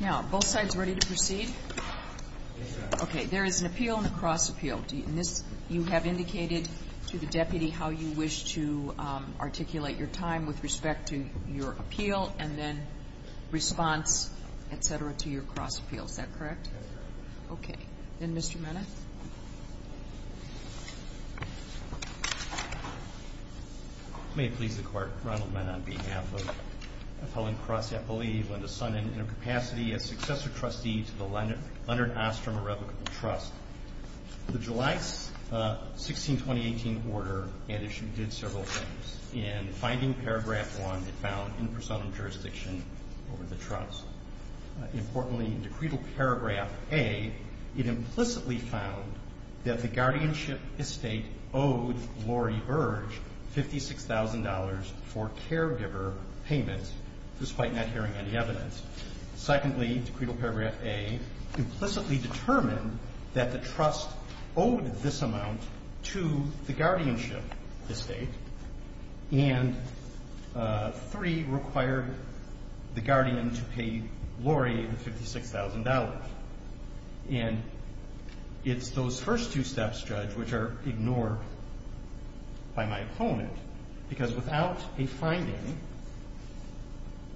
Now, both sides ready to proceed? Okay, there is an appeal and a cross-appeal. You have indicated to the deputy how you wish to articulate your time with respect to your appeal and then response, etc., to your cross-appeal. Is that correct? That's correct. Okay. Then, Mr. Mena. May it please the Court, Ronald Mena, on behalf of Helen Cross, I believe, Linda Sonnen, in her capacity as successor trustee to the London Ostrom Irrevocable Trust. The July 16, 2018, order at issue did several things. In finding paragraph 1, it found in personam jurisdiction over the trust. Importantly, in Decretal Paragraph A, it implicitly found that the guardianship estate owed Lori Burge $56,000 for caregiver payments, despite not hearing any evidence. Secondly, Decretal Paragraph A, implicitly determined that the trust owed this amount to the guardianship estate. And three, required the guardian to pay Lori the $56,000. And it's those first two steps, Judge, which are ignored by my opponent, because without a finding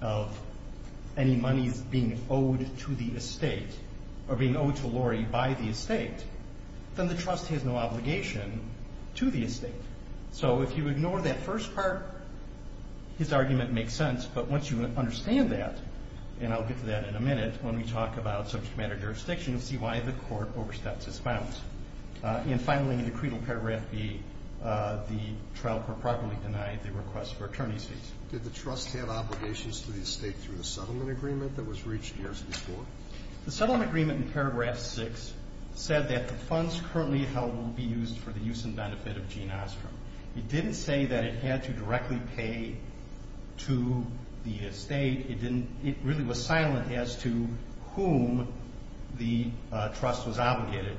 of any monies being owed to the estate or being owed to Lori by the estate, then the trust has no obligation to the estate. So if you ignore that first part, his argument makes sense. But once you understand that, and I'll get to that in a minute when we talk about subject matter jurisdiction, you'll see why the Court oversteps its bounds. And finally, in Decretal Paragraph B, the trial court properly denied the request for attorney's fees. Did the trust have obligations to the estate through the settlement agreement that was reached years before? The settlement agreement in Paragraph 6 said that the funds currently held will be It didn't say that it had to directly pay to the estate. It really was silent as to whom the trust was obligated.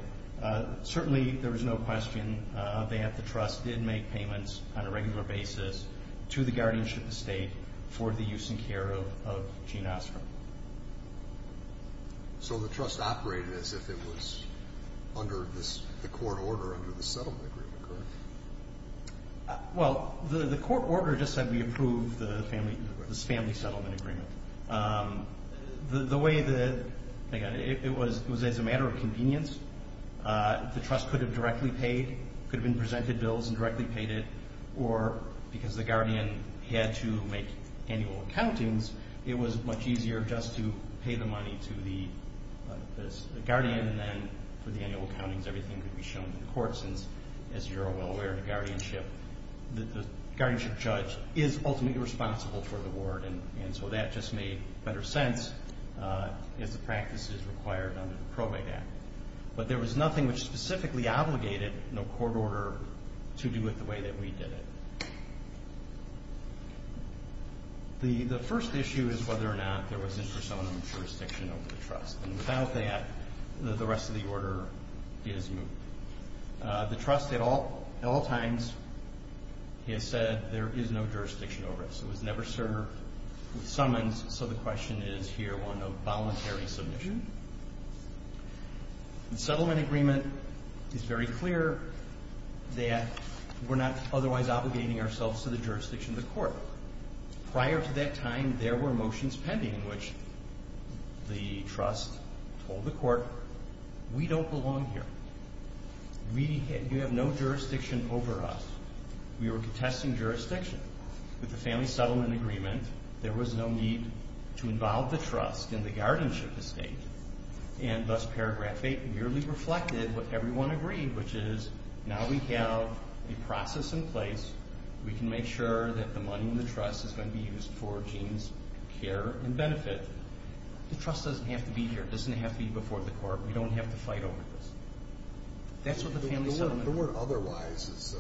Certainly, there was no question that the trust did make payments on a regular basis to the guardianship estate for the use and care of Gene Ostrom. So the trust operated as if it was under the court order under the settlement agreement, correct? Well, the court order just said we approved this family settlement agreement. The way that it was, it was as a matter of convenience. The trust could have directly paid, could have been presented bills and directly paid it, or because the guardian had to make annual accountings, it was much easier just to pay the money to the guardian, and then for the annual accounting of the court since, as you're well aware, the guardianship judge is ultimately responsible for the award, and so that just made better sense as the practice is required under the Probate Act. But there was nothing which specifically obligated the court order to do it the way that we did it. The first issue is whether or not there was interest on the jurisdiction of the estate. The trust at all times has said there is no jurisdiction over us. It was never served with summons, so the question is here one of voluntary submission. The settlement agreement is very clear that we're not otherwise obligating ourselves to the jurisdiction of the court. Prior to that time, there were motions pending in which the trust told the court we don't belong here. You have no jurisdiction over us. We were contesting jurisdiction. With the family settlement agreement, there was no need to involve the trust in the guardianship estate, and thus paragraph 8 merely reflected what everyone agreed, which is now we have a process in place. We can make sure that the money in the trust is going to be used for Gene's care and benefit. The trust doesn't have to be here. It doesn't have to be before the court. We don't have to fight over this. That's what the family settlement agreement is. The word otherwise is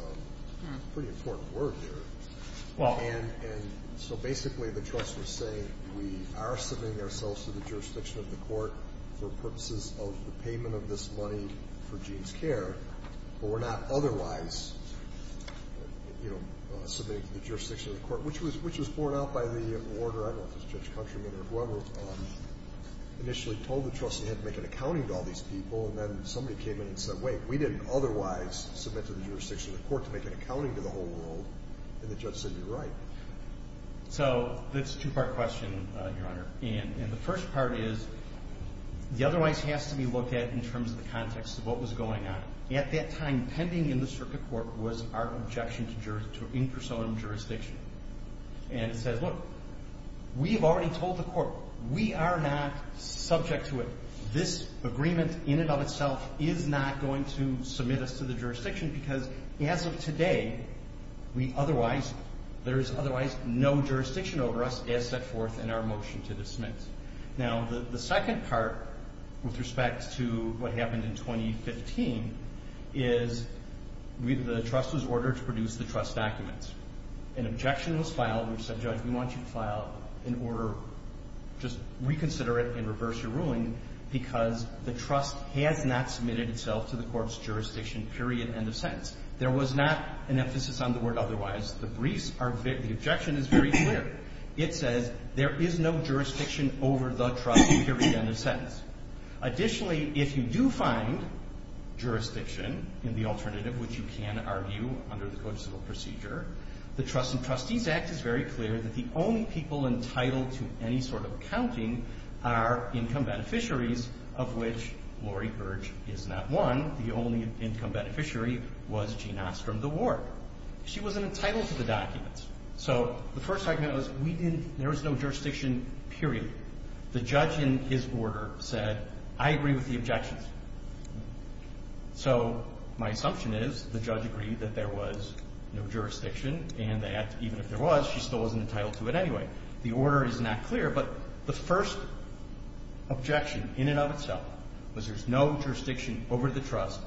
a pretty important word there. And so basically the trust was saying we are submitting ourselves to the jurisdiction of the court for purposes of the payment of this money for Gene's care, but we're not otherwise submitting to the jurisdiction of the court, which was borne out by the order, I don't know if it's Judge Countryman or whoever, initially told the trust they had to make an accounting to all these people, and then somebody came in and said, wait, we didn't otherwise submit to the jurisdiction of the court to make an accounting to the whole world, and the judge said you're right. So it's a two-part question, Your Honor, and the first part is the otherwise has to be looked at in terms of the context of what was going on. At that time, pending in the circuit court was our objection to in-person jurisdiction. And it says, look, we have already told the court, we are not subject to it. This agreement in and of itself is not going to submit us to the jurisdiction because as of today, we otherwise, there is otherwise no jurisdiction over us as set forth in our motion to dismiss. Now, the second part with respect to what happened in 2015 is the trust was filed. We said, Judge, we want you to file an order, just reconsider it and reverse your ruling because the trust has not submitted itself to the court's jurisdiction, period, end of sentence. There was not an emphasis on the word otherwise. The briefs, the objection is very clear. It says there is no jurisdiction over the trust, period, end of sentence. Additionally, if you do find jurisdiction in the alternative, which you can argue under the Code of Civil Procedure, the Trusts and Trustees Act is very clear that the only people entitled to any sort of accounting are income beneficiaries, of which Lori Burge is not one. The only income beneficiary was Jean Ostrom, the ward. She wasn't entitled to the documents. So the first argument was we didn't, there was no jurisdiction, period. The judge in his order said, I agree with the objections. So my assumption is the judge agreed that there was no jurisdiction, and that even if there was, she still wasn't entitled to it anyway. The order is not clear, but the first objection in and of itself was there's no jurisdiction over the trust.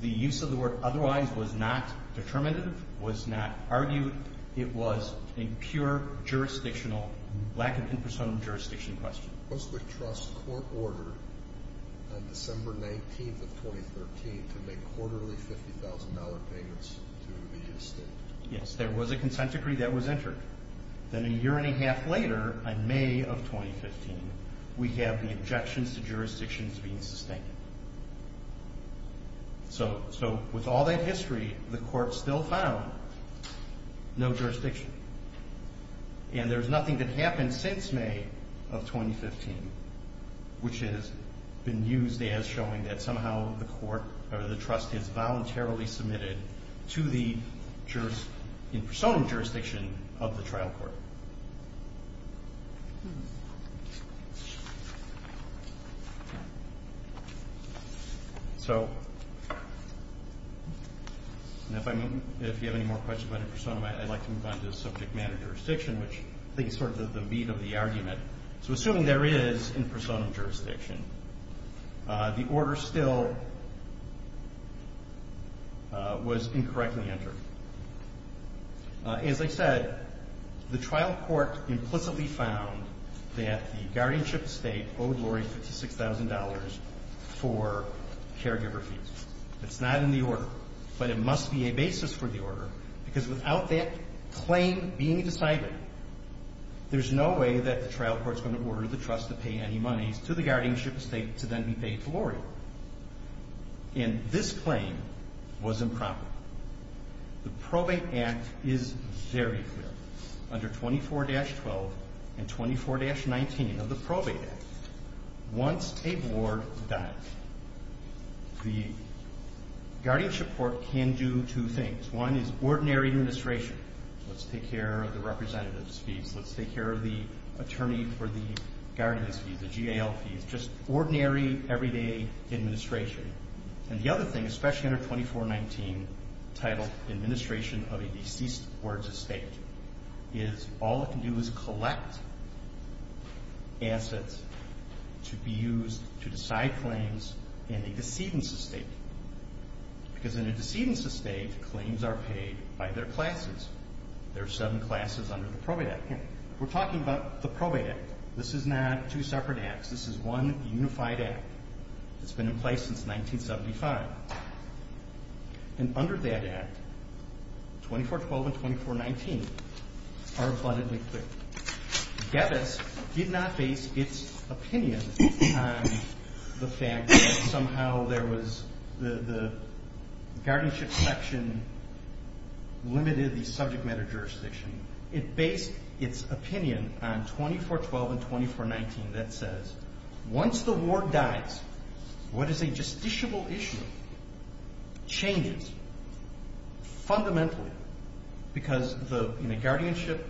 The use of the word otherwise was not determinative, was not argued. It was a pure jurisdictional, lack of impersonal jurisdiction question. Was the trust court ordered on December 19th of 2013 to make quarterly $50,000 payments to the estate? Yes, there was a consent decree that was entered. Then a year and a half later, in May of 2015, we have the objections to jurisdictions being sustained. So with all that history, the court still found no jurisdiction. And there's nothing that happened since May of 2015, which has been used as showing that somehow the court or the trust has voluntarily submitted to the in-persona jurisdiction of the trial court. So if you have any more questions about in-persona, I'd like to move on to subject matter jurisdiction, which I think is sort of the beat of the argument. So assuming there is in-persona jurisdiction, the order still was incorrectly entered. As I said, the trial court implicitly found that the guardianship estate owed Lori $56,000 for caregiver fees. It's not in the order. But it must be a basis for the order, because without that claim being decided, there's no way that the trial court's going to order the trust to pay any monies to the guardianship estate to then be paid to Lori. And this claim was improper. The Probate Act is very clear under 24-12 and 24-19 of the Probate Act. Once a board dies, the guardianship court can do two things. One is ordinary administration. Let's take care of the representatives' fees. Let's take care of the attorney for the guardians' fees, the GAL fees. Just ordinary, everyday administration. And the other thing, especially under 24-19, titled Administration of a Deceased Board's Estate, is all it can do is collect assets to be used to decide claims in a decedent's estate. Because in a decedent's estate, claims are paid by their classes. There are seven classes under the Probate Act here. We're talking about the Probate Act. This is not two separate acts. This is one unified act. It's been in place since 1975. And under that act, 24-12 and 24-19 are abundantly clear. GEDIS did not base its opinion on the fact that somehow there was the guardianship section limited the subject matter jurisdiction. It based its opinion on 24-12 and 24-19 that says, once the ward dies, what is a justiciable issue changes fundamentally because in a guardianship,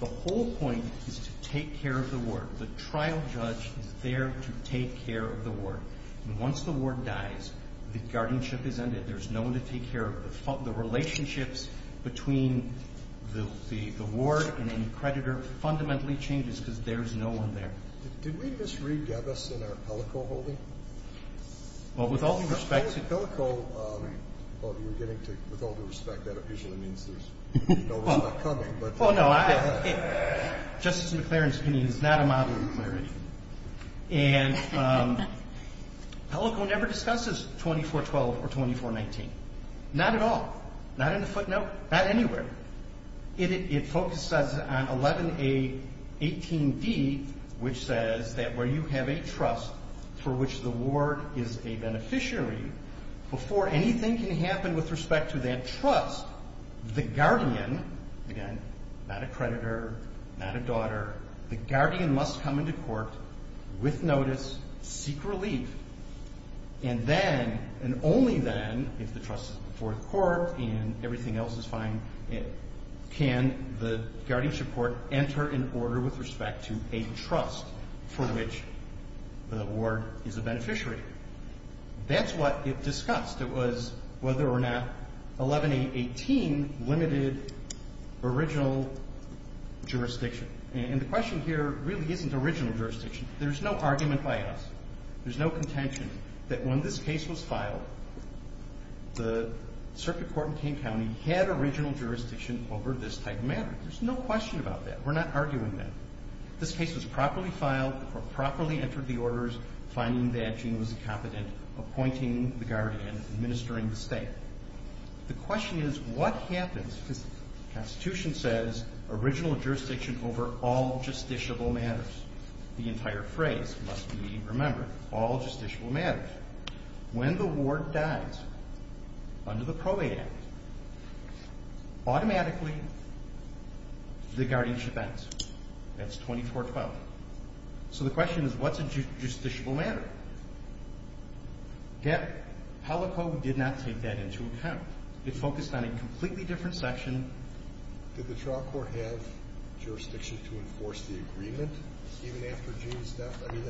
the whole point is to take care of the ward. The trial judge is there to take care of the ward. And once the ward dies, the guardianship is ended. There's no one to take care of it. The relationships between the ward and any creditor fundamentally changes because there's no one there. Did we misread GEDIS in our Pellico holding? Well, with all due respect to Pellico. With all due respect, that usually means there's no one coming. Oh, no. Justice McClaren's opinion is not a model of clarity. And Pellico never discusses 24-12 or 24-19. Not at all. Not in the footnote. Not anywhere. It focuses on 11-A-18-D, which says that where you have a trust for which the ward is a beneficiary, before anything can happen with respect to that trust, the guardian, again, not a creditor, not a daughter, the guardian must come into court with notice, seek relief, and then and only then, if the trust is fourth court and everything else is fine, can the guardianship court enter an order with respect to a trust for which the ward is a beneficiary. That's what it discussed. It was whether or not 11-A-18 limited original jurisdiction. And the question here really isn't original jurisdiction. There's no argument by us. There's no contention that when this case was filed, the circuit court in King County had original jurisdiction over this type of matter. There's no question about that. We're not arguing that. This case was properly filed or properly entered the orders, finding that Gene was competent, appointing the guardian, administering the state. The question is what happens because the Constitution says original jurisdiction over all justiciable matters. The entire phrase must be remembered. All justiciable matters. When the ward dies under the Probate Act, automatically the guardianship ends. That's 24-12. So the question is what's a justiciable matter? Yet, Palico did not take that into account. It focused on a completely different section. Did the trial court have jurisdiction to enforce the agreement even after Gene's death? I mean,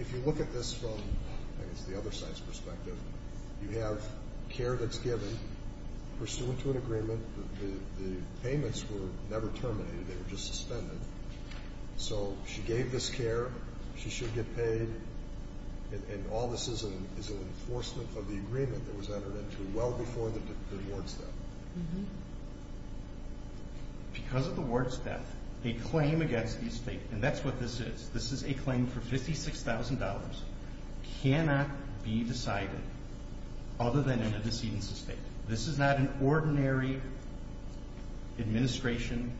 if you look at this from, I guess, the other side's perspective, you have care that's given pursuant to an agreement. The payments were never terminated. They were just suspended. So she gave this care. She should get paid. And all this is is an enforcement of the agreement that was entered into well before the ward's death. Because of the ward's death, a claim against the state, and that's what this is, this is a claim for $56,000, cannot be decided other than in a decedent's estate. This is not an ordinary administration.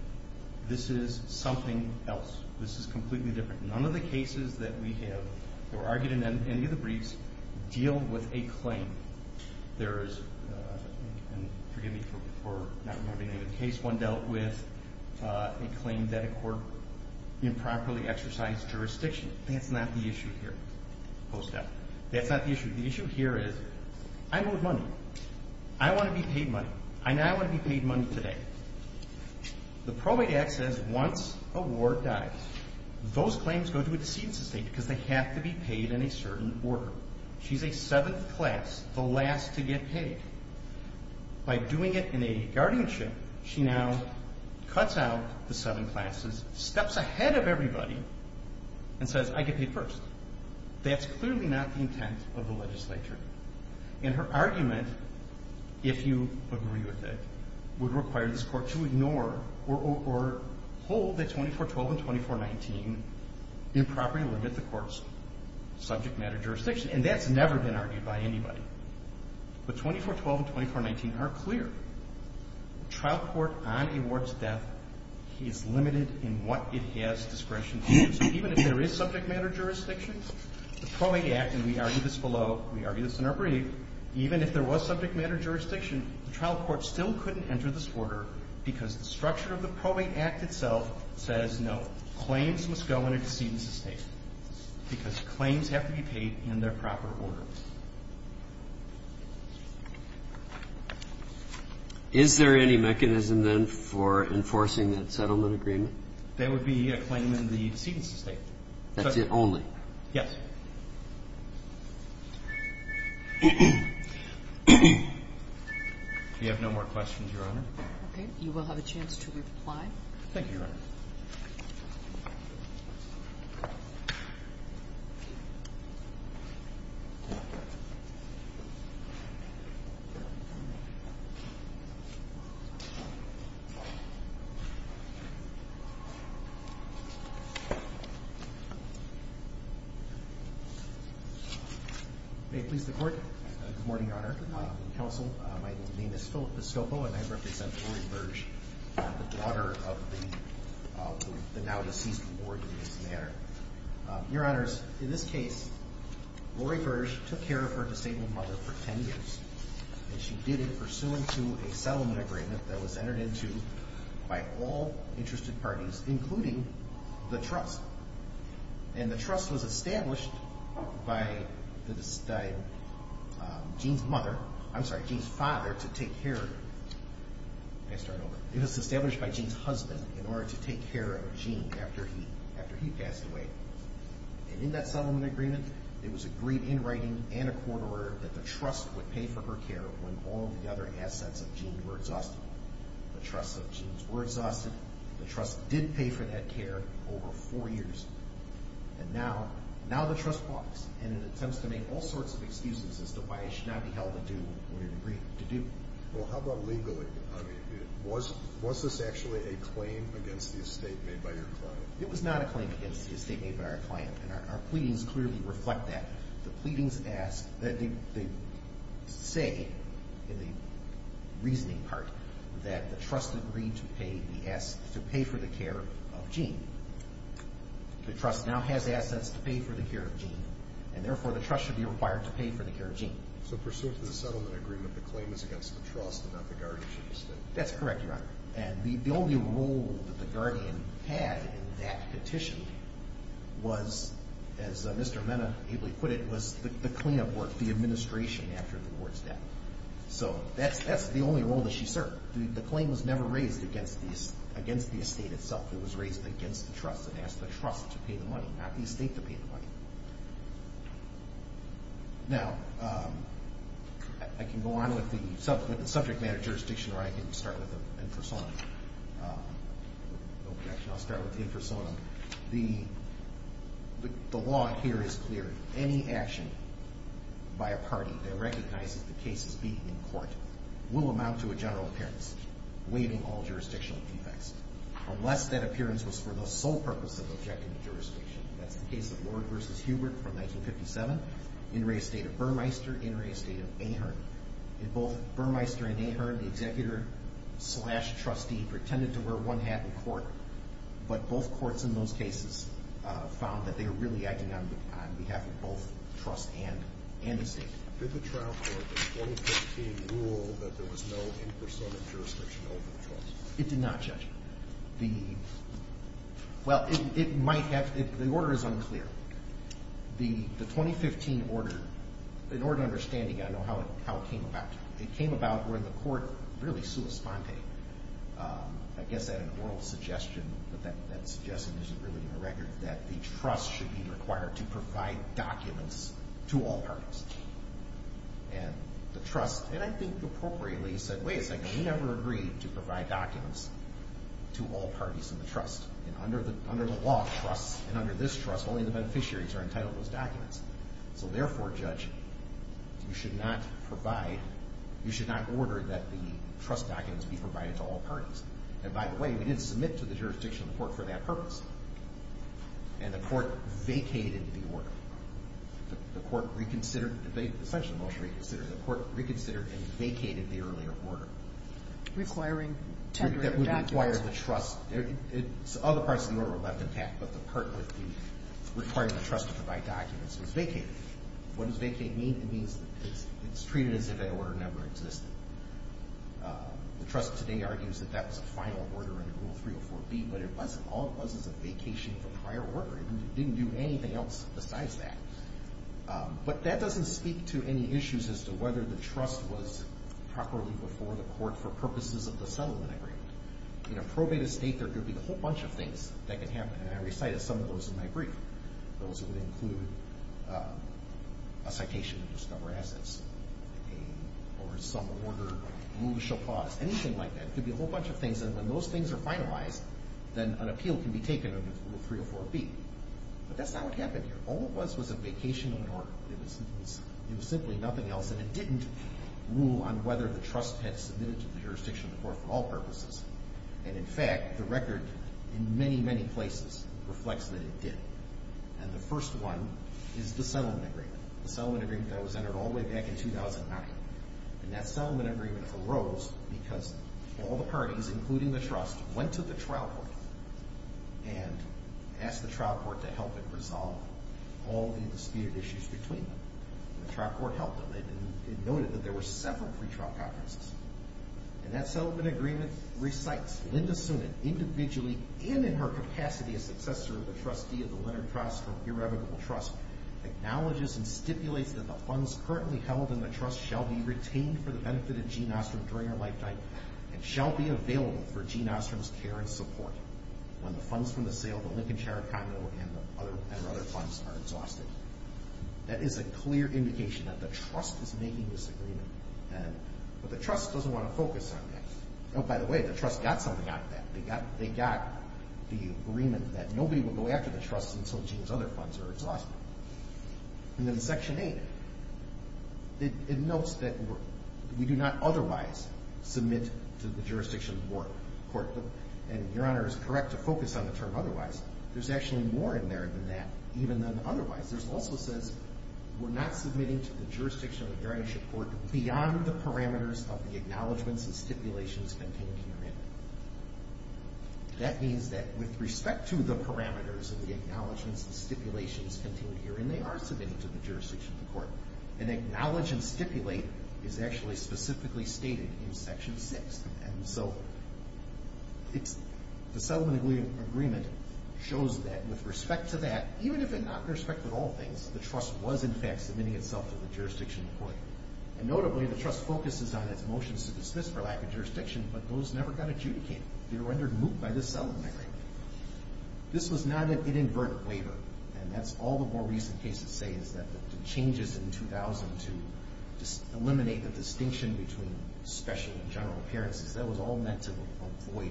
This is something else. This is completely different. None of the cases that we have that were argued in any of the briefs deal with a claim. There is, and forgive me for not remembering the name of the case, one dealt with a claim that a court improperly exercised jurisdiction. That's not the issue here, post-death. That's not the issue. The issue here is, I owed money. I want to be paid money. I now want to be paid money today. The Probate Act says once a ward dies, those claims go to a decedent's estate because they have to be paid in a certain order. She's a seventh class, the last to get paid. By doing it in a guardianship, she now cuts out the seven classes, steps ahead of everybody, and says, I get paid first. That's clearly not the intent of the legislature. And her argument, if you agree with it, would require this court to ignore or hold that 2412 and 2419 improperly limit the court's subject matter jurisdiction. And that's never been argued by anybody. But 2412 and 2419 are clear. The trial court on a ward's death is limited in what it has discretion to use. Even if there is subject matter jurisdiction, the Probate Act, and we argue this below, we argue this in our brief, even if there was subject matter jurisdiction, the trial court still couldn't enter this order because the structure of the Probate Act itself says no, claims must go in a decedent's estate because claims have to be paid in their proper order. Is there any mechanism then for enforcing that settlement agreement? There would be a claim in the decedent's estate. That's it only? Yes. We have no more questions, Your Honor. Okay. You will have a chance to reply. Thank you, Your Honor. Thank you. May it please the Court. Good morning, Your Honor. Good morning. Counsel, my name is Philip Piscopo and I represent Lori Virge, the daughter of the now-deceased ward in this matter. Your Honors, in this case, Lori Virge took care of her disabled mother for 10 years. And she did it pursuant to a settlement agreement that was entered into by all interested parties, including the trust. And the trust was established by Gene's mother, I'm sorry, Gene's father, to take care of her. May I start over? And in that settlement agreement, it was agreed in writing and a court order that the trust would pay for her care when all the other assets of Gene were exhausted. The trusts of Gene's were exhausted. The trust did pay for that care over four years. And now the trust walks and attempts to make all sorts of excuses as to why it should not be held to due when it agreed to do. Well, how about legally? I mean, was this actually a claim against the estate made by your client? It was not a claim against the estate made by our client. And our pleadings clearly reflect that. The pleadings ask that they say in the reasoning part that the trust agreed to pay for the care of Gene. The trust now has assets to pay for the care of Gene, and therefore the trust should be required to pay for the care of Gene. So pursuant to the settlement agreement, the claim is against the trust and not the guardianship estate. That's correct, Your Honor. And the only role that the guardian had in that petition was, as Mr. Mena ably put it, was the cleanup work, the administration after the ward's death. So that's the only role that she served. The claim was never raised against the estate itself. It was raised against the trust and asked the trust to pay the money, not the estate to pay the money. Now, I can go on with the subject matter of jurisdiction, or I can start with the infersonum. Actually, I'll start with the infersonum. The law here is clear. Any action by a party that recognizes the case as being in court will amount to a general appearance, waiving all jurisdictional defects, unless that appearance was for the sole purpose of objecting to jurisdiction. That's the case of Ward v. Hubert from 1957, in re-estate of Burmeister, in re-estate of Ahearn. In both Burmeister and Ahearn, the executor-slash-trustee pretended to wear one hat in court, but both courts in those cases found that they were really acting on behalf of both trust and the estate. Did the trial court in 2015 rule that there was no infersonum in jurisdiction over the trust? It did not, Judge. Well, the order is unclear. The 2015 order, in order to understand it again, I don't know how it came about. It came about where the court really sua sponte, I guess at an oral suggestion, but that suggestion isn't really in the record, that the trust should be required to provide documents to all parties. And the trust, and I think appropriately, said, wait a second, we never agreed to provide documents to all parties in the trust. And under the law, trusts, and under this trust, only the beneficiaries are entitled to those documents. So therefore, Judge, you should not provide, you should not order that the trust documents be provided to all parties. And by the way, we didn't submit to the jurisdiction of the court for that purpose. And the court vacated the order. The court reconsidered, essentially most reconsidered, the court reconsidered and vacated the earlier order. Requiring 10 greater documents. That would require the trust, other parts of the order were left intact, but the part requiring the trust to provide documents was vacated. What does vacate mean? It means it's treated as if that order never existed. The trust today argues that that was a final order under Rule 304B, but it wasn't, all it was is a vacation of a prior order. It didn't do anything else besides that. But that doesn't speak to any issues as to whether the trust was properly before the court for purposes of the settlement agreement. In a probate estate, there could be a whole bunch of things that could happen, and I recited some of those in my brief. Those would include a citation of discovered assets, or some order, rule shall pause, anything like that. It could be a whole bunch of things, and when those things are finalized, then an appeal can be taken under Rule 304B. But that's not what happened here. All it was was a vacation of an order. It was simply nothing else, and it didn't rule on whether the trust had submitted to the jurisdiction of the court for all purposes. And, in fact, the record in many, many places reflects that it did. And the first one is the settlement agreement. The settlement agreement that was entered all the way back in 2009. And that settlement agreement arose because all the parties, including the trust, went to the trial court and asked the trial court to help it resolve all the disputed issues between them. And the trial court helped them. It noted that there were several pretrial conferences. And that settlement agreement recites Linda Soonan, individually and in her capacity as successor of the trustee of the Leonard Trust, or irrevocable trust, acknowledges and stipulates that the funds currently held in the trust shall be retained for the benefit of Gene Ostrom during her lifetime and shall be available for Gene Ostrom's care and support when the funds from the sale of the Lincoln Shire condo and other funds are exhausted. That is a clear indication that the trust is making this agreement. But the trust doesn't want to focus on that. Oh, by the way, the trust got something out of that. They got the agreement that nobody would go after the trust until Gene's other funds are exhausted. And then Section 8, it notes that we do not otherwise submit to the jurisdiction of the court. And, Your Honor, it's correct to focus on the term otherwise. There's actually more in there than that, even than otherwise. It also says we're not submitting to the jurisdiction of a derogatory court beyond the parameters of the acknowledgments and stipulations contained herein. They are submitting to the jurisdiction of the court. And acknowledge and stipulate is actually specifically stated in Section 6. And so the settlement agreement shows that with respect to that, even if not with respect to all things, the trust was in fact submitting itself to the jurisdiction of the court. And notably, the trust focuses on its motions to dismiss for lack of jurisdiction, but those never got adjudicated. They were under moot by the settlement agreement. This was not an inadvertent waiver. And that's all the more recent cases say is that the changes in 2000 to eliminate the distinction between special and general appearances, that was all meant to avoid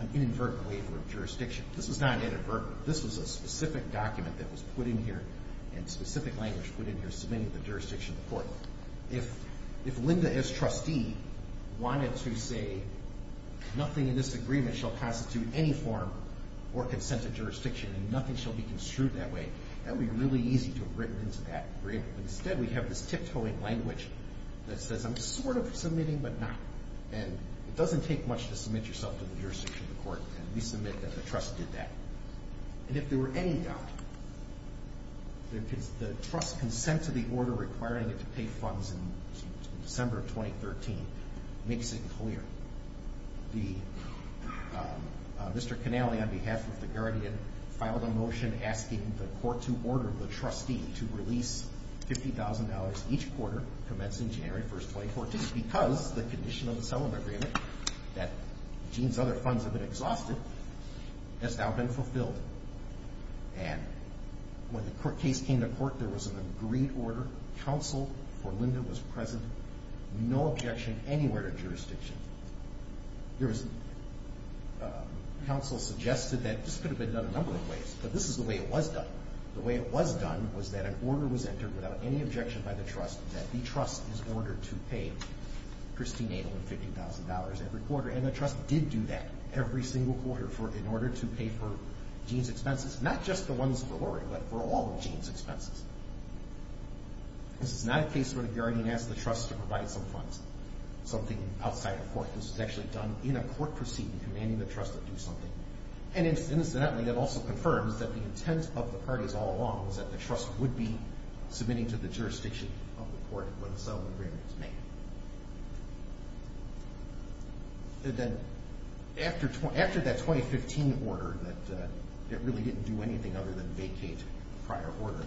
an inadvertent waiver of jurisdiction. This was not inadvertent. This was a specific document that was put in here and specific language put in here submitting to the jurisdiction of the court. If Linda, as trustee, wanted to say, nothing in this agreement shall constitute any form or consent of jurisdiction and nothing shall be construed that way, that would be really easy to have written into that agreement. Instead, we have this tiptoeing language that says, I'm sort of submitting, but not. And it doesn't take much to submit yourself to the jurisdiction of the court. And we submit that the trust did that. And if there were any doubt, the trust's consent to the order requiring it to pay funds in December of 2013 makes it clear. Mr. Connelly, on behalf of the Guardian, filed a motion asking the court to order the trustee to release $50,000 each quarter commencing January 1, 2014, because the condition of the settlement agreement that Gene's other funds have been exhausted has now been fulfilled. And when the case came to court, there was an agreed order. Counsel for Linda was present. No objection anywhere to jurisdiction. Counsel suggested that this could have been done a number of ways, but this is the way it was done. The way it was done was that an order was entered without any objection by the trust that the trust is ordered to pay Christine Adel $50,000 every quarter. And the trust did do that every single quarter in order to pay for Gene's expenses, not just the ones for Lori, but for all of Gene's expenses. This is not a case where the Guardian asked the trust to provide some funds, something outside of court. This was actually done in a court proceeding, commanding the trust to do something. And incidentally, it also confirms that the intent of the parties all along was that the trust would be submitting to the jurisdiction of the court when the settlement agreement was made. And then after that 2015 order, that really didn't do anything other than vacate a prior order,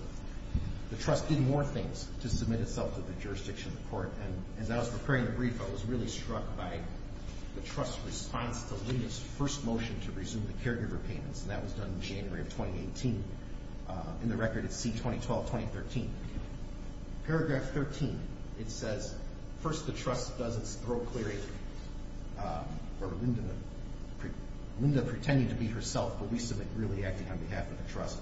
the trust did more things to submit itself to the jurisdiction of the court. And as I was preparing the brief, I was really struck by the trust's response to Linda's first motion to resume the caregiver payments, and that was done in January of 2018. In the record, it's C-2012-2013. Paragraph 13, it says, First, the trust doesn't grow clearly. Or Linda pretending to be herself, but we submit really acting on behalf of the trust.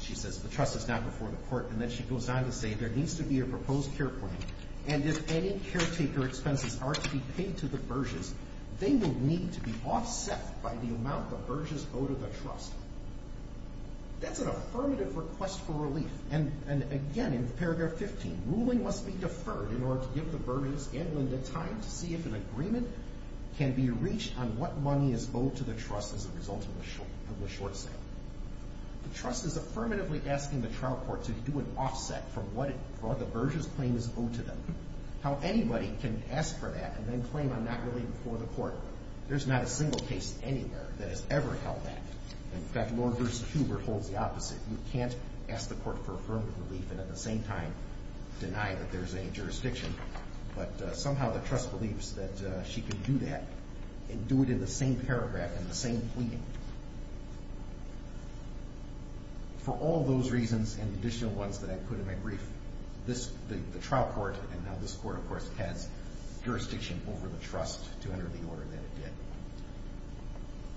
She says, the trust is now before the court, and then she goes on to say, there needs to be a proposed care plan, and if any caretaker expenses are to be paid to the Burges, they will need to be offset by the amount the Burges owe to the trust. That's an affirmative request for relief. And again, in paragraph 15, The ruling must be deferred in order to give the Burges and Linda time to see if an agreement can be reached on what money is owed to the trust as a result of the short sale. The trust is affirmatively asking the trial court to do an offset from what the Burges claim is owed to them. How anybody can ask for that and then claim I'm not really before the court. There's not a single case anywhere that has ever held that. In fact, Lord versus Huber holds the opposite. You can't ask the court for affirmative relief and at the same time deny that there's any jurisdiction, but somehow the trust believes that she can do that and do it in the same paragraph and the same pleading. For all those reasons and additional ones that I put in my brief, the trial court and now this court, of course, has jurisdiction over the trust to enter the order that it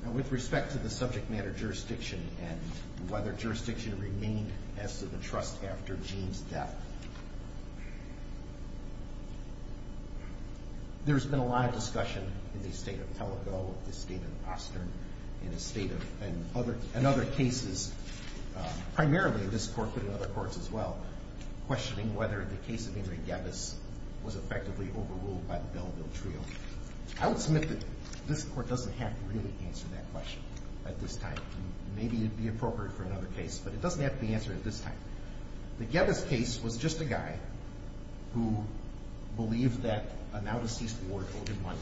did. With respect to the subject matter jurisdiction and whether jurisdiction remained as to the trust after Gene's death. There's been a lot of discussion in the state of Pellico, the state of Austin, and other cases, primarily in this court but in other courts as well, questioning whether the case of Ingrid Gavis was effectively overruled by the Belleville Trio. I would submit that this court doesn't have to really answer that question at this time. Maybe it would be appropriate for another case, but it doesn't have to be answered at this time. The Gavis case was just a guy who believed that a now-deceased ward owed him money.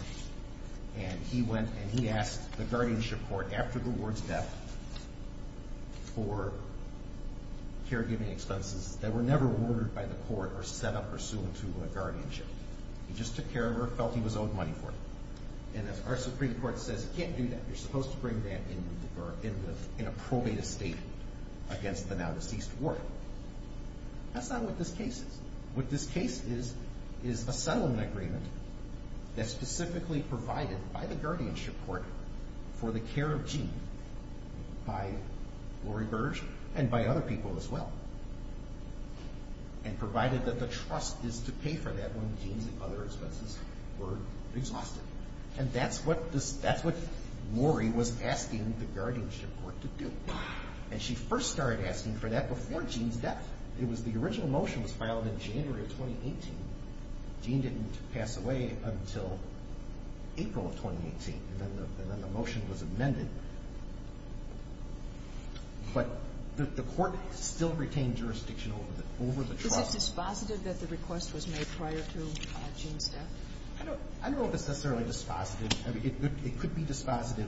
And he went and he asked the guardianship court after the ward's death for caregiving expenses that were never ordered by the court or set up or sued to a guardianship. He just took care of her, felt he was owed money for it. And as our Supreme Court says, you can't do that. You're supposed to bring that in a probate estate against the now-deceased ward. That's not what this case is. What this case is is a settlement agreement that's specifically provided by the guardianship court for the care of Gene by Lori Burge and by other people as well and provided that the trust is to pay for that when Gene's other expenses were exhausted. And that's what Lori was asking the guardianship court to do. And she first started asking for that before Gene's death. The original motion was filed in January of 2018. Gene didn't pass away until April of 2018, and then the motion was amended. But the court still retained jurisdiction over the trust. Is this dispositive that the request was made prior to Gene's death? I don't know if it's necessarily dispositive. It could be dispositive.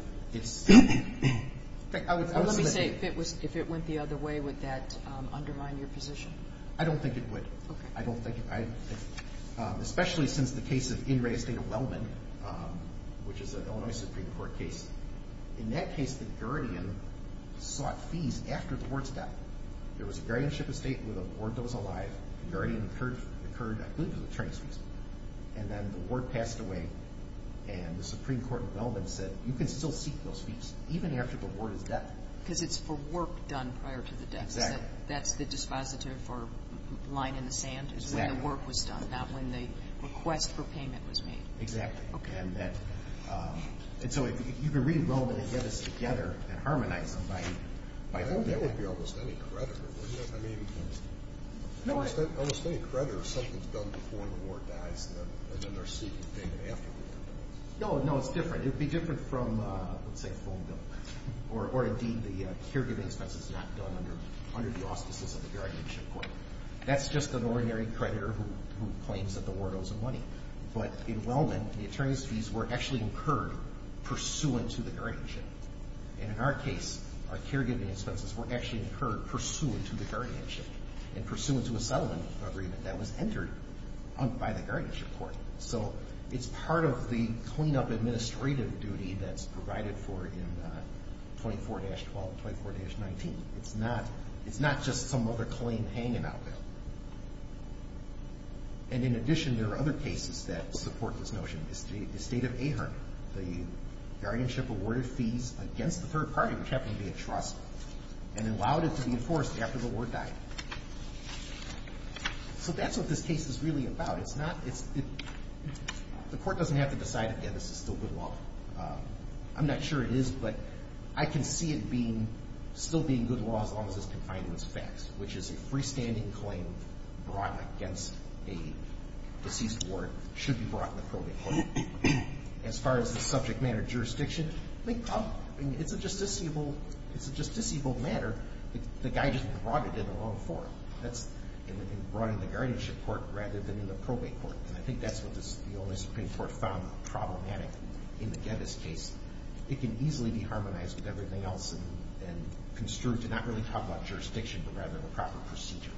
Let me say, if it went the other way, would that undermine your position? I don't think it would, especially since the case of In Re Estate of Wellman, which is an Illinois Supreme Court case. In that case, the guardian sought fees after the ward's death. There was a guardianship estate where the ward was alive. The guardian incurred, I believe it was attorney's fees. And then the ward passed away, and the Supreme Court of Wellman said, you can still seek those fees even after the ward is dead. Because it's for work done prior to the death. Exactly. That's the dispositive for line in the sand is when the work was done, not when the request for payment was made. Exactly. Okay. And so you can read Wellman and get us together and harmonize them by doing that. I mean, that would be almost any creditor, wouldn't it? I mean, almost any creditor, if something's done before the ward dies, then they're seeking payment afterward. No, no, it's different. It would be different from, let's say, a phone bill. Or, indeed, the caregiving expenses not done under the auspices of the guardianship court. That's just an ordinary creditor who claims that the ward owes him money. But in Wellman, the attorney's fees were actually incurred pursuant to the guardianship. And in our case, our caregiving expenses were actually incurred pursuant to the guardianship and pursuant to a settlement agreement that was entered by the guardianship court. So it's part of the cleanup administrative duty that's provided for in 24-12 and 24-19. It's not just some other claim hanging out there. And, in addition, there are other cases that support this notion. The state of Ahern. The guardianship awarded fees against the third party, which happened to be a trust, and allowed it to be enforced after the ward died. So that's what this case is really about. It's not, it's, the court doesn't have to decide, yeah, this is still good law. I'm not sure it is, but I can see it being, still being good law as long as it's confined to its facts, which is a freestanding claim brought against a deceased ward should be brought in the probate court. As far as the subject matter jurisdiction, it's a justiciable matter. The guy just brought it in the wrong form. That's brought in the guardianship court rather than in the probate court. And I think that's what the only Supreme Court found problematic in the Geddes case. It can easily be harmonized with everything else and construed to not really talk about jurisdiction, but rather the proper procedure.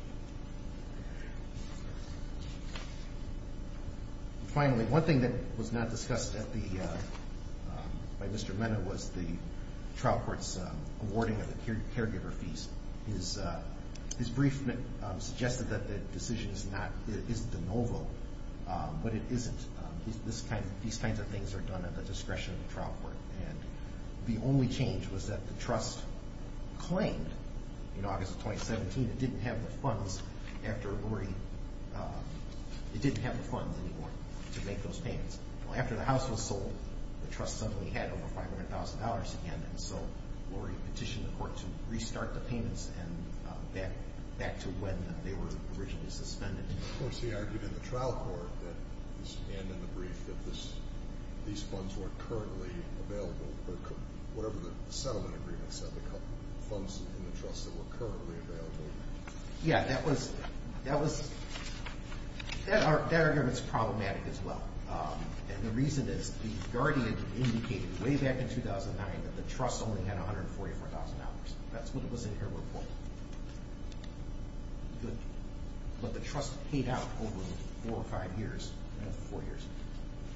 Finally, one thing that was not discussed at the, by Mr. Mena was the trial court's awarding of the caregiver fees. His brief suggested that the decision is not, is de novo, but it isn't. These kinds of things are done at the discretion of the trial court. And the only change was that the trust claimed in August of 2017 it didn't have the funds after Lurie, it didn't have the funds anymore to make those payments. Well, after the house was sold, the trust suddenly had over $500,000 again, and so Lurie petitioned the court to restart the payments and back to when they were originally suspended. Of course, he argued in the trial court that, and in the brief, that these funds weren't currently available, or whatever the settlement agreement said, the funds in the trust that were currently available. Yeah, that was, that argument's problematic as well. And the reason is the guardian indicated way back in 2009 that the trust only had $144,000. That's what it was in her report. But the trust paid out over four or five years, no, four years,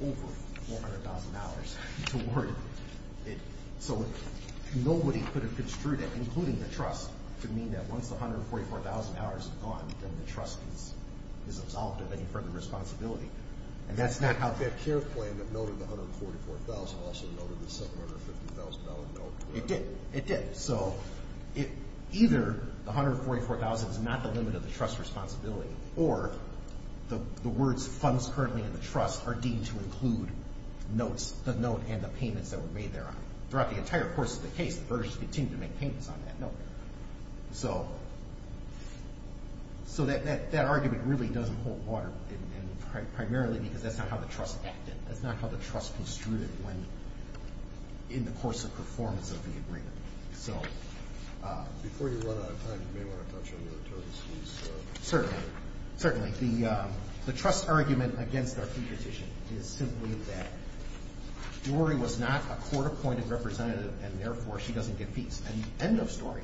over $400,000 to Lurie. So nobody could have construed it, including the trust, to mean that once the $144,000 is gone, then the trust is absolved of any further responsibility. And that's not how that care plan that noted the $144,000 also noted the $750,000 note. It did. It did. So either the $144,000 is not the limit of the trust responsibility, or the words funds currently in the trust are deemed to include notes, the note and the payments that were made thereon. Throughout the entire course of the case, the Burgess continued to make payments on that note. So that argument really doesn't hold water, primarily because that's not how the trust acted. That's not how the trust construed it in the course of performance of the agreement. So before you run out of time, you may want to touch on the attorneys' fees. Certainly. Certainly. The trust argument against our competition is simply that Lurie was not a court-appointed representative, and therefore she doesn't get fees. End of story.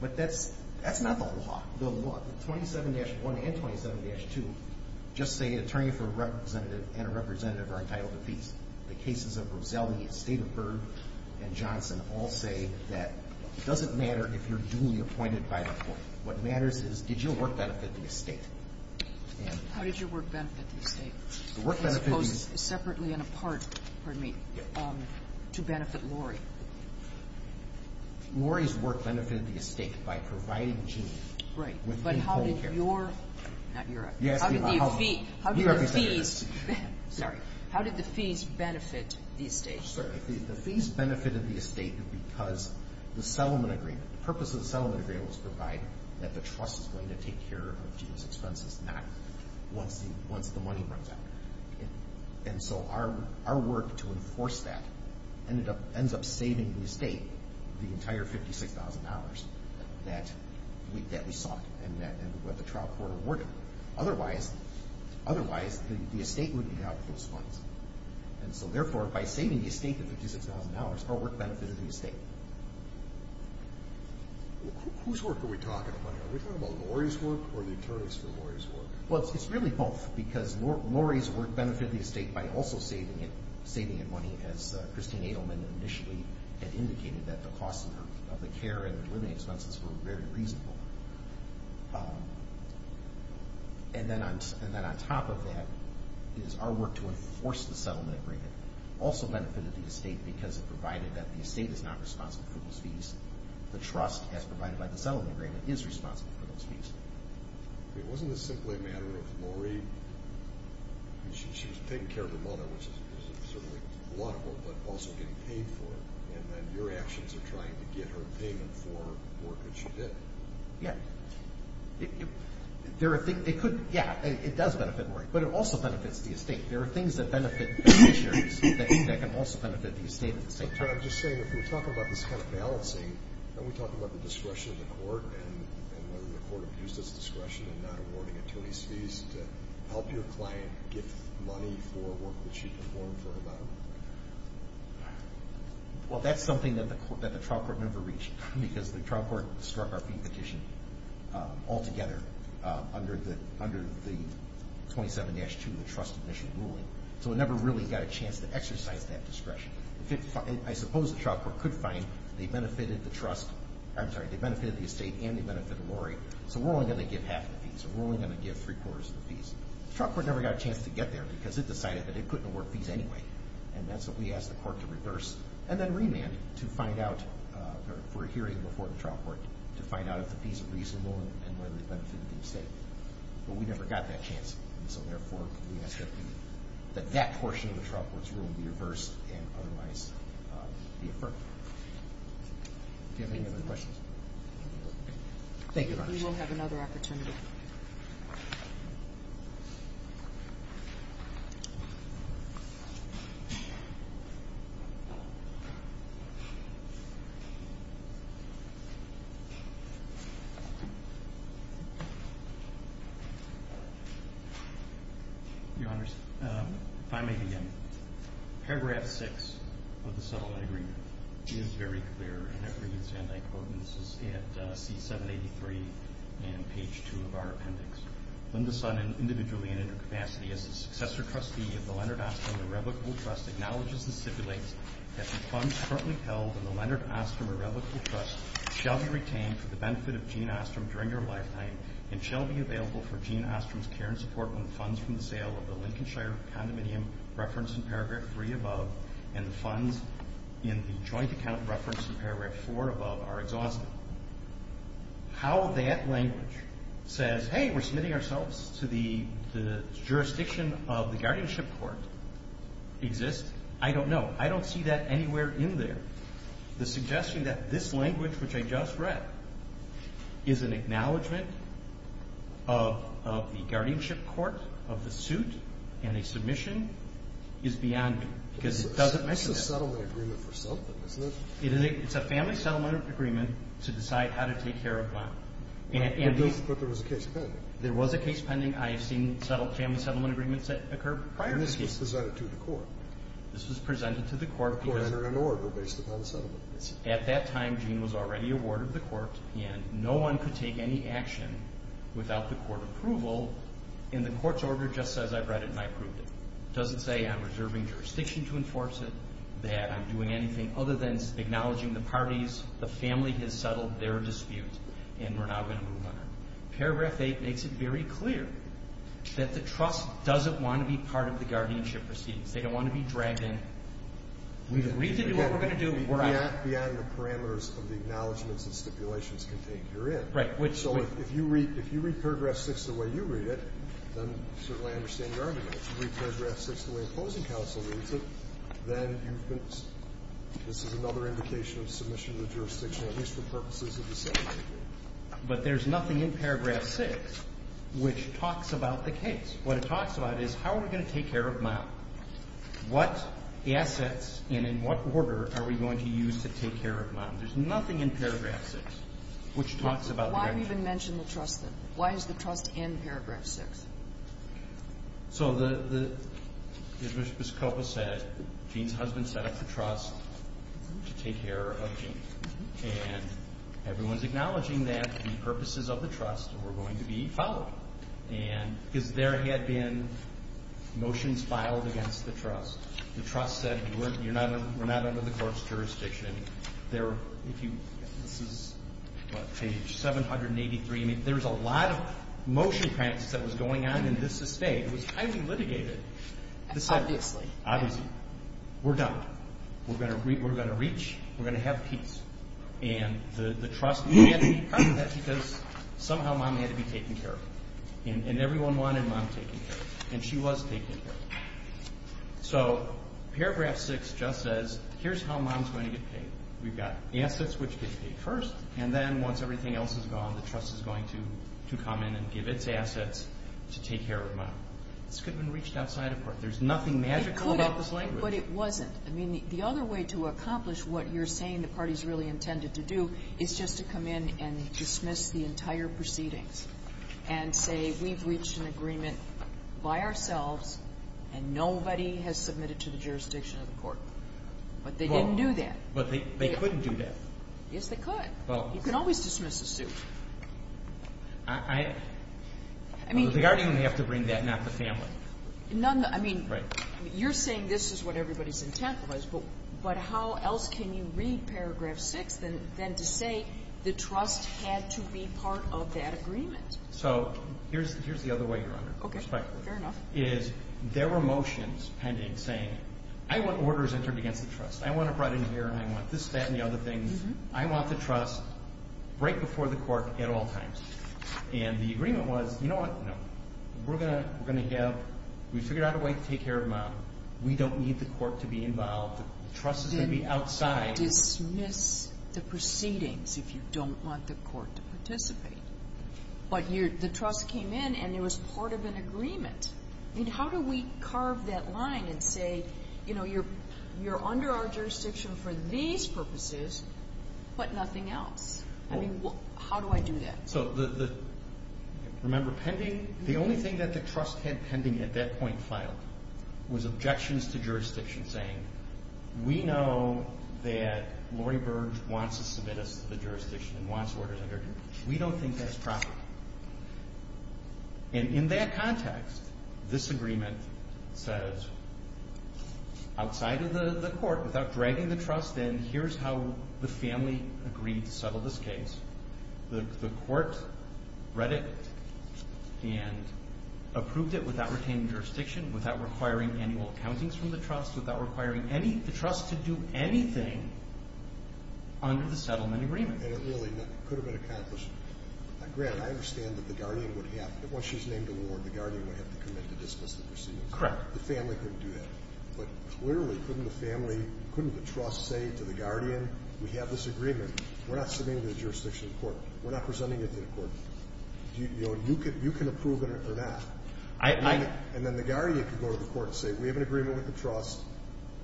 But that's not the law. Well, 27-1 and 27-2 just say an attorney for a representative and a representative are entitled to fees. The cases of Roselli, the estate of Burg, and Johnson all say that it doesn't matter if you're duly appointed by the court. What matters is did your work benefit the estate? How did your work benefit the estate? The work benefit is – As opposed separately and apart, pardon me, to benefit Lurie. Lurie's work benefited the estate by providing Jean – How did your – not your – How did the fees benefit the estate? The fees benefited the estate because the purpose of the settlement agreement was to provide that the trust is going to take care of Jean's expenses, not once the money runs out. And so our work to enforce that ends up saving the estate the entire $56,000 that we sought and what the trial court awarded. Otherwise, the estate wouldn't have those funds. And so therefore, by saving the estate the $56,000, our work benefited the estate. Whose work are we talking about here? Are we talking about Lurie's work or the attorneys for Lurie's work? Well, it's really both because Lurie's work benefited the estate by also saving it money, as Christine Adelman initially had indicated, that the costs of the care and the delivery expenses were very reasonable. And then on top of that is our work to enforce the settlement agreement also benefited the estate because it provided that the estate is not responsible for those fees. The trust, as provided by the settlement agreement, is responsible for those fees. Wasn't this simply a matter of Lurie? She was taking care of her mother, which is certainly a lot of work, but also getting paid for it. And then your actions are trying to get her payment for work that she did. Yeah. It could, yeah, it does benefit Lurie, but it also benefits the estate. There are things that benefit beneficiaries that can also benefit the estate at the same time. I'm just saying, if we're talking about this kind of balancing, aren't we talking about the discretion of the court and whether the court abused its discretion in not awarding attorneys' fees to help your client get money for work that she performed for her mother? Well, that's something that the trial court never reached because the trial court struck our fee petition altogether under the 27-2, the trust admission ruling. So it never really got a chance to exercise that discretion. I suppose the trial court could find they benefited the estate and they benefited Lurie. So we're only going to give half the fees, or we're only going to give three-quarters of the fees. The trial court never got a chance to get there because it decided that it couldn't award fees anyway. And that's what we asked the court to reverse and then remand to find out, for a hearing before the trial court, to find out if the fees are reasonable and whether they benefited the estate. But we never got that chance. And so, therefore, we ask that that portion of the trial court's rule be reversed and otherwise be affirmed. Do you have any other questions? Thank you very much. We will have another opportunity. Your Honors, if I may begin. Paragraph 6 of the settlement agreement is very clear, and it reads, and I quote, and this is at C783 and page 2 of our appendix. Linda Sun, individually and in her capacity as a successor trustee of the Leonard Ostrom Irrevocable Trust, acknowledges and stipulates that the funds currently held in the Leonard Ostrom Irrevocable Trust shall be retained for the benefit of Jean Ostrom during her lifetime and shall be available for Jean Ostrom's care and support when the funds from the sale of the Lincolnshire condominium referenced in paragraph 3 above and the funds in the joint account referenced in paragraph 4 above are exhausted. How that language says, hey, we're submitting ourselves to the jurisdiction of the guardianship court exists, I don't know. I don't see that anywhere in there. The suggestion that this language, which I just read, is an acknowledgment of the guardianship court, of the suit, and a submission is beyond me because it doesn't mention that. This is a settlement agreement for something, isn't it? It's a family settlement agreement to decide how to take care of land. But there was a case pending. There was a case pending. I have seen family settlement agreements that occur prior to this case. And this was presented to the court. This was presented to the court. At that time, Jean was already awarded the court, and no one could take any action without the court approval. And the court's order just says I've read it and I've approved it. It doesn't say I'm reserving jurisdiction to enforce it, that I'm doing anything other than acknowledging the parties, the family has settled their dispute, and we're now going to move on. Paragraph 8 makes it very clear that the trust doesn't want to be part of the guardianship proceedings. They don't want to be dragged in. We agree to do what we're going to do. We're out. Beyond the parameters of the acknowledgments and stipulations contained herein. Right. So if you read paragraph 6 the way you read it, then certainly I understand your argument. If you read paragraph 6 the way the opposing counsel reads it, then you've been ‑‑ this is another indication of submission to the jurisdiction, at least for purposes of the settlement agreement. But there's nothing in paragraph 6 which talks about the case. What it talks about is how are we going to take care of Mom? What assets and in what order are we going to use to take care of Mom? There's nothing in paragraph 6 which talks about the guardianship. Why even mention the trust then? Why is the trust in paragraph 6? So the ‑‑ as Ms. Coppola said, Gene's husband set up the trust to take care of Gene. And everyone's acknowledging that the purposes of the trust were going to be followed. And because there had been motions filed against the trust. The trust said we're not under the court's jurisdiction. This is page 783. There was a lot of motion practice that was going on in this estate. It was highly litigated. Obviously. Obviously. We're done. We're going to reach. We're going to have peace. And the trust had to be part of that because somehow Mom had to be taken care of. And everyone wanted Mom taken care of. And she was taken care of. So paragraph 6 just says here's how Mom's going to get paid. We've got assets which get paid first. And then once everything else is gone, the trust is going to come in and give its assets to take care of Mom. This could have been reached outside of court. There's nothing magical about this language. But it wasn't. I mean, the other way to accomplish what you're saying the parties really intended to do is just to come in and dismiss the entire proceedings and say we've reached an agreement by ourselves and nobody has submitted to the jurisdiction of the court. But they didn't do that. But they couldn't do that. Yes, they could. Well. You can always dismiss a suit. I mean. They aren't even going to have to bring that, not the family. None. I mean. Right. You're saying this is what everybody's intent was. But how else can you read paragraph 6 than to say the trust had to be part of that agreement? So here's the other way you're under. Okay. Fair enough. Is there were motions pending saying I want orders entered against the trust. I want it brought in here. I want this, that, and the other things. I want the trust right before the court at all times. And the agreement was, you know what? No. We're going to have. We figured out a way to take care of them out. We don't need the court to be involved. The trust is going to be outside. Dismiss the proceedings if you don't want the court to participate. But the trust came in and it was part of an agreement. I mean, how do we carve that line and say, you know, you're under our jurisdiction for these purposes but nothing else? I mean, how do I do that? So remember pending? The only thing that the trust had pending at that point filed was objections to jurisdiction saying, we know that Lori Burge wants to submit us to the jurisdiction and wants orders entered. We don't think that's proper. And in that context, this agreement says, outside of the court, without dragging the trust in, here's how the family agreed to settle this case. The court read it and approved it without retaining jurisdiction, without requiring annual accountings from the trust, without requiring the trust to do anything under the settlement agreement. And it really could have been accomplished. Grant, I understand that the guardian would have, once she's named a ward, the guardian would have to commit to dismiss the proceedings. Correct. The family couldn't do that. But clearly, couldn't the family, couldn't the trust say to the guardian, we have this agreement. We're not submitting it to the jurisdiction court. We're not presenting it to the court. You can approve it or not. And then the guardian could go to the court and say, we have an agreement with the trust,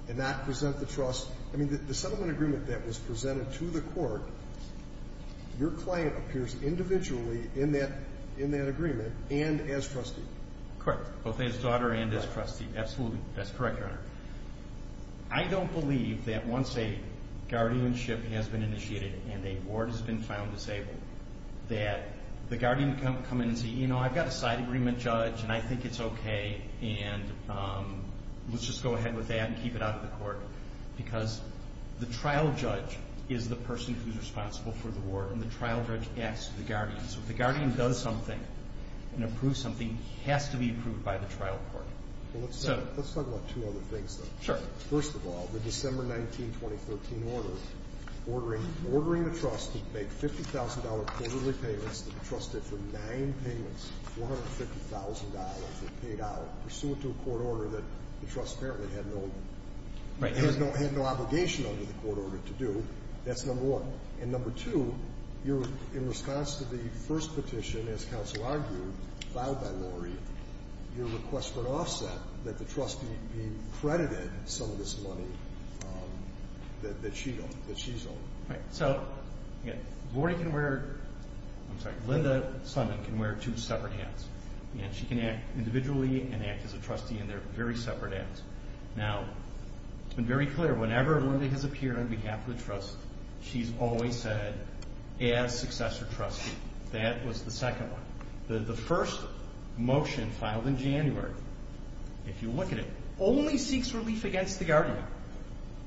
and not present the trust. I mean, the settlement agreement that was presented to the court, your client appears individually in that agreement and as trustee. Correct. Both as daughter and as trustee. Absolutely. That's correct, Your Honor. I don't believe that once a guardianship has been initiated and a ward has been found disabled, that the guardian can come in and say, you know, I've got a side agreement judge, and I think it's okay, and let's just go ahead with that and keep it out of the court. Because the trial judge is the person who's responsible for the ward, and the trial judge asks the guardian. So if the guardian does something and approves something, it has to be approved by the trial court. Let's talk about two other things, though. Sure. First of all, the December 19, 2013 order, ordering the trust to make $50,000 quarterly payments that the trust did for nine payments, $450,000 that paid out pursuant to a court order that the trust apparently had no obligation under the court order to do. That's number one. And number two, in response to the first petition, as counsel argued, filed by Lori, your request for an offset, that the trust be credited some of this money that she's owed. Right. So Lori can wear – I'm sorry, Linda Summitt can wear two separate hats, and she can act individually and act as a trustee in their very separate hats. Now, it's been very clear, whenever Linda has appeared on behalf of the trust, she's always said, as successor trustee. That was the second one. The first motion filed in January, if you look at it, only seeks relief against the guardian.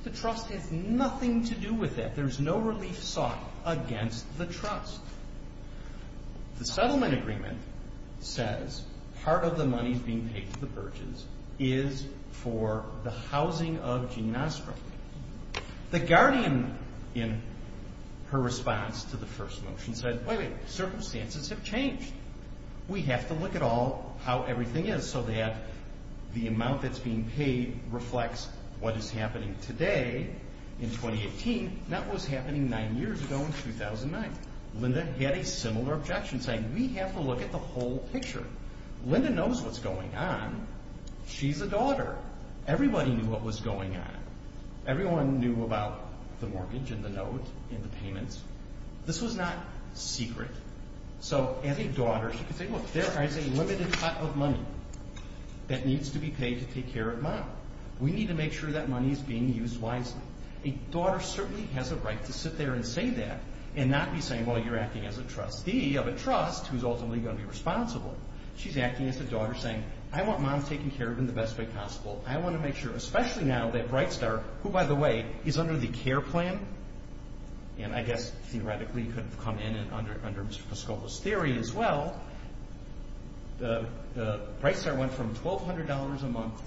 The trust has nothing to do with that. There's no relief sought against the trust. The settlement agreement says part of the money being paid to the Burges is for the housing of Ginastra. The guardian, in her response to the first motion, said, wait, wait, circumstances have changed. We have to look at how everything is so that the amount that's being paid reflects what is happening today in 2018, not what was happening nine years ago in 2009. Linda had a similar objection, saying we have to look at the whole picture. Linda knows what's going on. She's a daughter. Everybody knew what was going on. Everyone knew about the mortgage and the note and the payments. This was not secret. So as a daughter, she could say, look, there is a limited pot of money that needs to be paid to take care of mom. We need to make sure that money is being used wisely. A daughter certainly has a right to sit there and say that and not be saying, well, you're acting as a trustee of a trust who's ultimately going to be responsible. She's acting as a daughter saying, I want mom taken care of in the best way possible. I want to make sure, especially now that Brightstar, who, by the way, is under the CARE plan, and I guess theoretically could come in under Mr. Pascova's theory as well, Brightstar went from $1,200 a month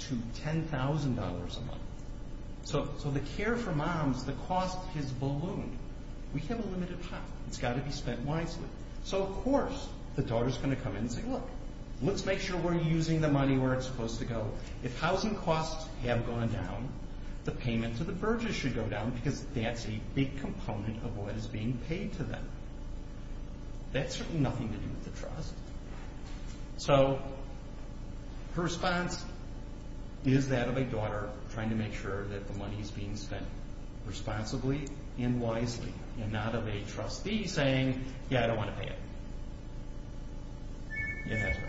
to $10,000 a month. So the CARE for moms, the cost has ballooned. We have a limited pot. It's got to be spent wisely. So, of course, the daughter is going to come in and say, look, let's make sure we're using the money where it's supposed to go. If housing costs have gone down, the payment to the Burgess should go down because that's a big component of what is being paid to them. That's certainly nothing to do with the trust. So her response is that of a daughter trying to make sure that the money is being spent responsibly and wisely and not of a trustee saying, yeah, I don't want to pay it. Yeah, that's right.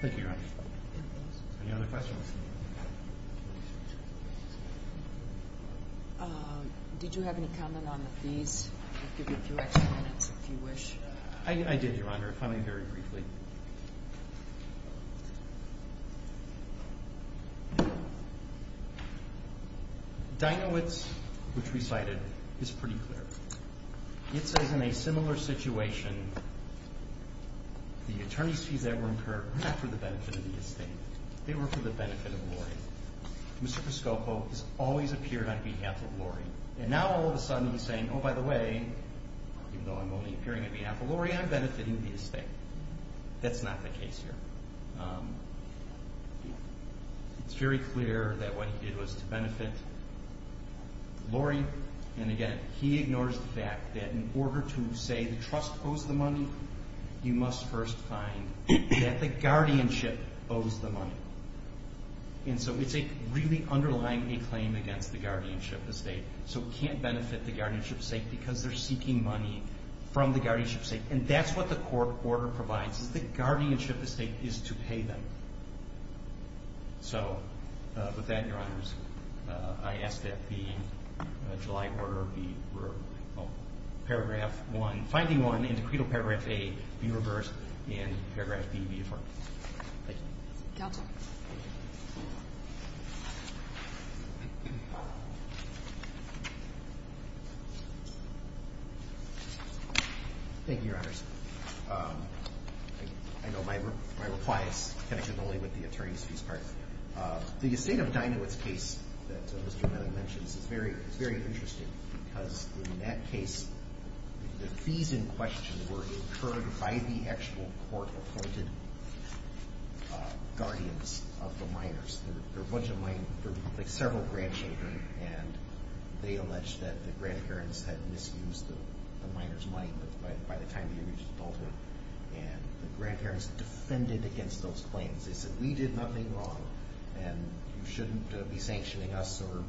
Thank you, Your Honor. Any other questions? Did you have any comment on the fees? I'll give you a few extra minutes if you wish. I did, Your Honor, if only very briefly. Dinowitz, which we cited, is pretty clear. It says in a similar situation the attorney's fees that were incurred were not for the benefit of the estate. They were for the benefit of Lori. Mr. Pascopo has always appeared on behalf of Lori. And now all of a sudden he's saying, oh, by the way, even though I'm only appearing on behalf of Lori, I'm benefiting the estate. That's not the case here. It's very clear that what he did was to benefit Lori. And again, he ignores the fact that in order to say the trust owes the money, you must first find that the guardianship owes the money. And so it's really underlying a claim against the guardianship estate. So it can't benefit the guardianship estate because they're seeking money from the guardianship estate. And that's what the court order provides, is that guardianship estate is to pay them. So with that, Your Honors, I ask that the July order be referred, paragraph 1, finding 1 in decreed in paragraph A be reversed, and paragraph B be affirmed. Thank you. Counsel. Thank you, Your Honors. I know my reply is connected only with the attorney's fees part. The estate of Dinowitz case that Mr. O'Malley mentions is very interesting because in that case, the fees in question were incurred by the actual court-appointed guardians of the minors. They're a bunch of minors. They're like several grandchildren, and they allege that the grandparents had misused the minors' money by the time they reached adulthood. And the grandparents defended against those claims. They said, we did nothing wrong, and you shouldn't be sanctioning us or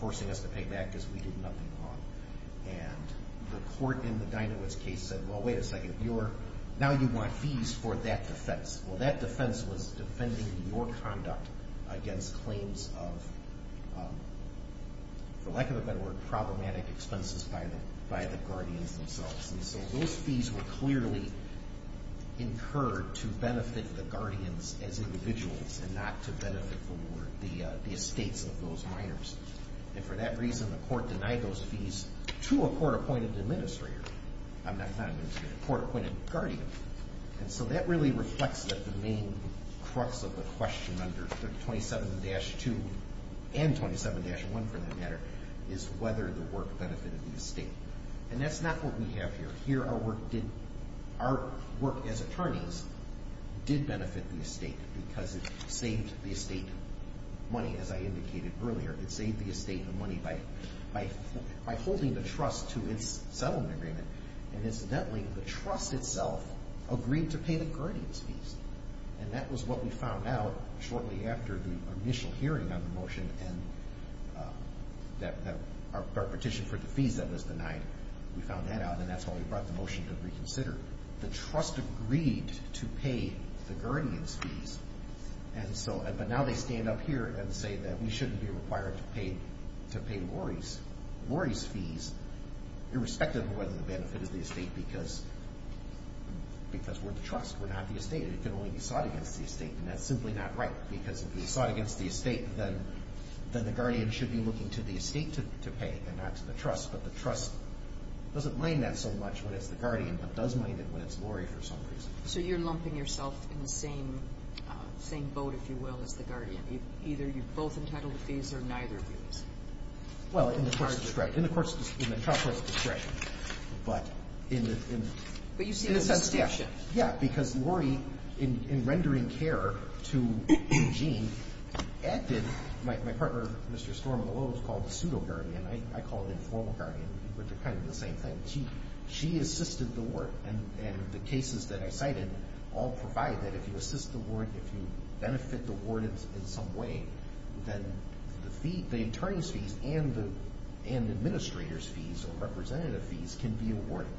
forcing us to pay back because we did nothing wrong. And the court in the Dinowitz case said, well, wait a second. Now you want fees for that defense. Well, that defense was defending your conduct against claims of, for lack of a better word, problematic expenses by the guardians themselves. And so those fees were clearly incurred to benefit the guardians as individuals and not to benefit the estates of those minors. And for that reason, the court denied those fees to a court-appointed administrator. I'm not an administrator. A court-appointed guardian. And so that really reflects the main crux of the question under 27-2 and 27-1, for that matter, is whether the work benefited the estate. And that's not what we have here. Here, our work as attorneys did benefit the estate because it saved the estate money, as I indicated earlier. It saved the estate the money by holding the trust to its settlement agreement. And incidentally, the trust itself agreed to pay the guardians' fees. And that was what we found out shortly after the initial hearing on the motion and our petition for the fees that was denied. We found that out, and that's when we brought the motion to reconsider. The trust agreed to pay the guardians' fees. But now they stand up here and say that we shouldn't be required to pay Lori's fees, irrespective of whether the benefit is the estate, because we're the trust. We're not the estate. It can only be sought against the estate, and that's simply not right. Because if it's sought against the estate, then the guardian should be looking to the estate to pay and not to the trust. But the trust doesn't mind that so much when it's the guardian, but does mind it when it's Lori for some reason. So you're lumping yourself in the same boat, if you will, as the guardian. Either you're both entitled to fees or neither of you is. Well, in the child court's discretion. But you see the distinction. Yeah, because Lori, in rendering care to Eugene, acted like my partner, Mr. Storm Malone, was called the pseudo-guardian. I call it informal guardian, which are kind of the same thing. But she assisted the ward. And the cases that I cited all provide that if you assist the ward, if you benefit the ward in some way, then the attorney's fees and the administrator's fees or representative fees can be awarded.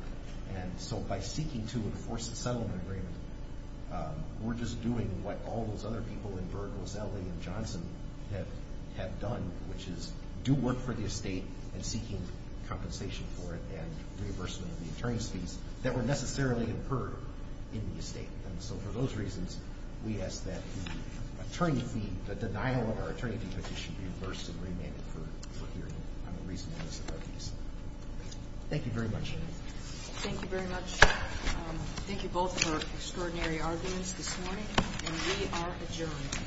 And so by seeking to enforce a settlement agreement, we're just doing what all those other people in Berg, Roselli and Johnson have done, which is do work for the estate and seeking compensation for it and reimbursement of the attorney's fees that were necessarily incurred in the estate. And so for those reasons, we ask that the attorney fee, the denial of our attorney fee petition, be reimbursed and remanded for hearing on the reasonableness of our fees. Thank you very much. Thank you very much. Thank you both for extraordinary arguments this morning. And we are adjourned.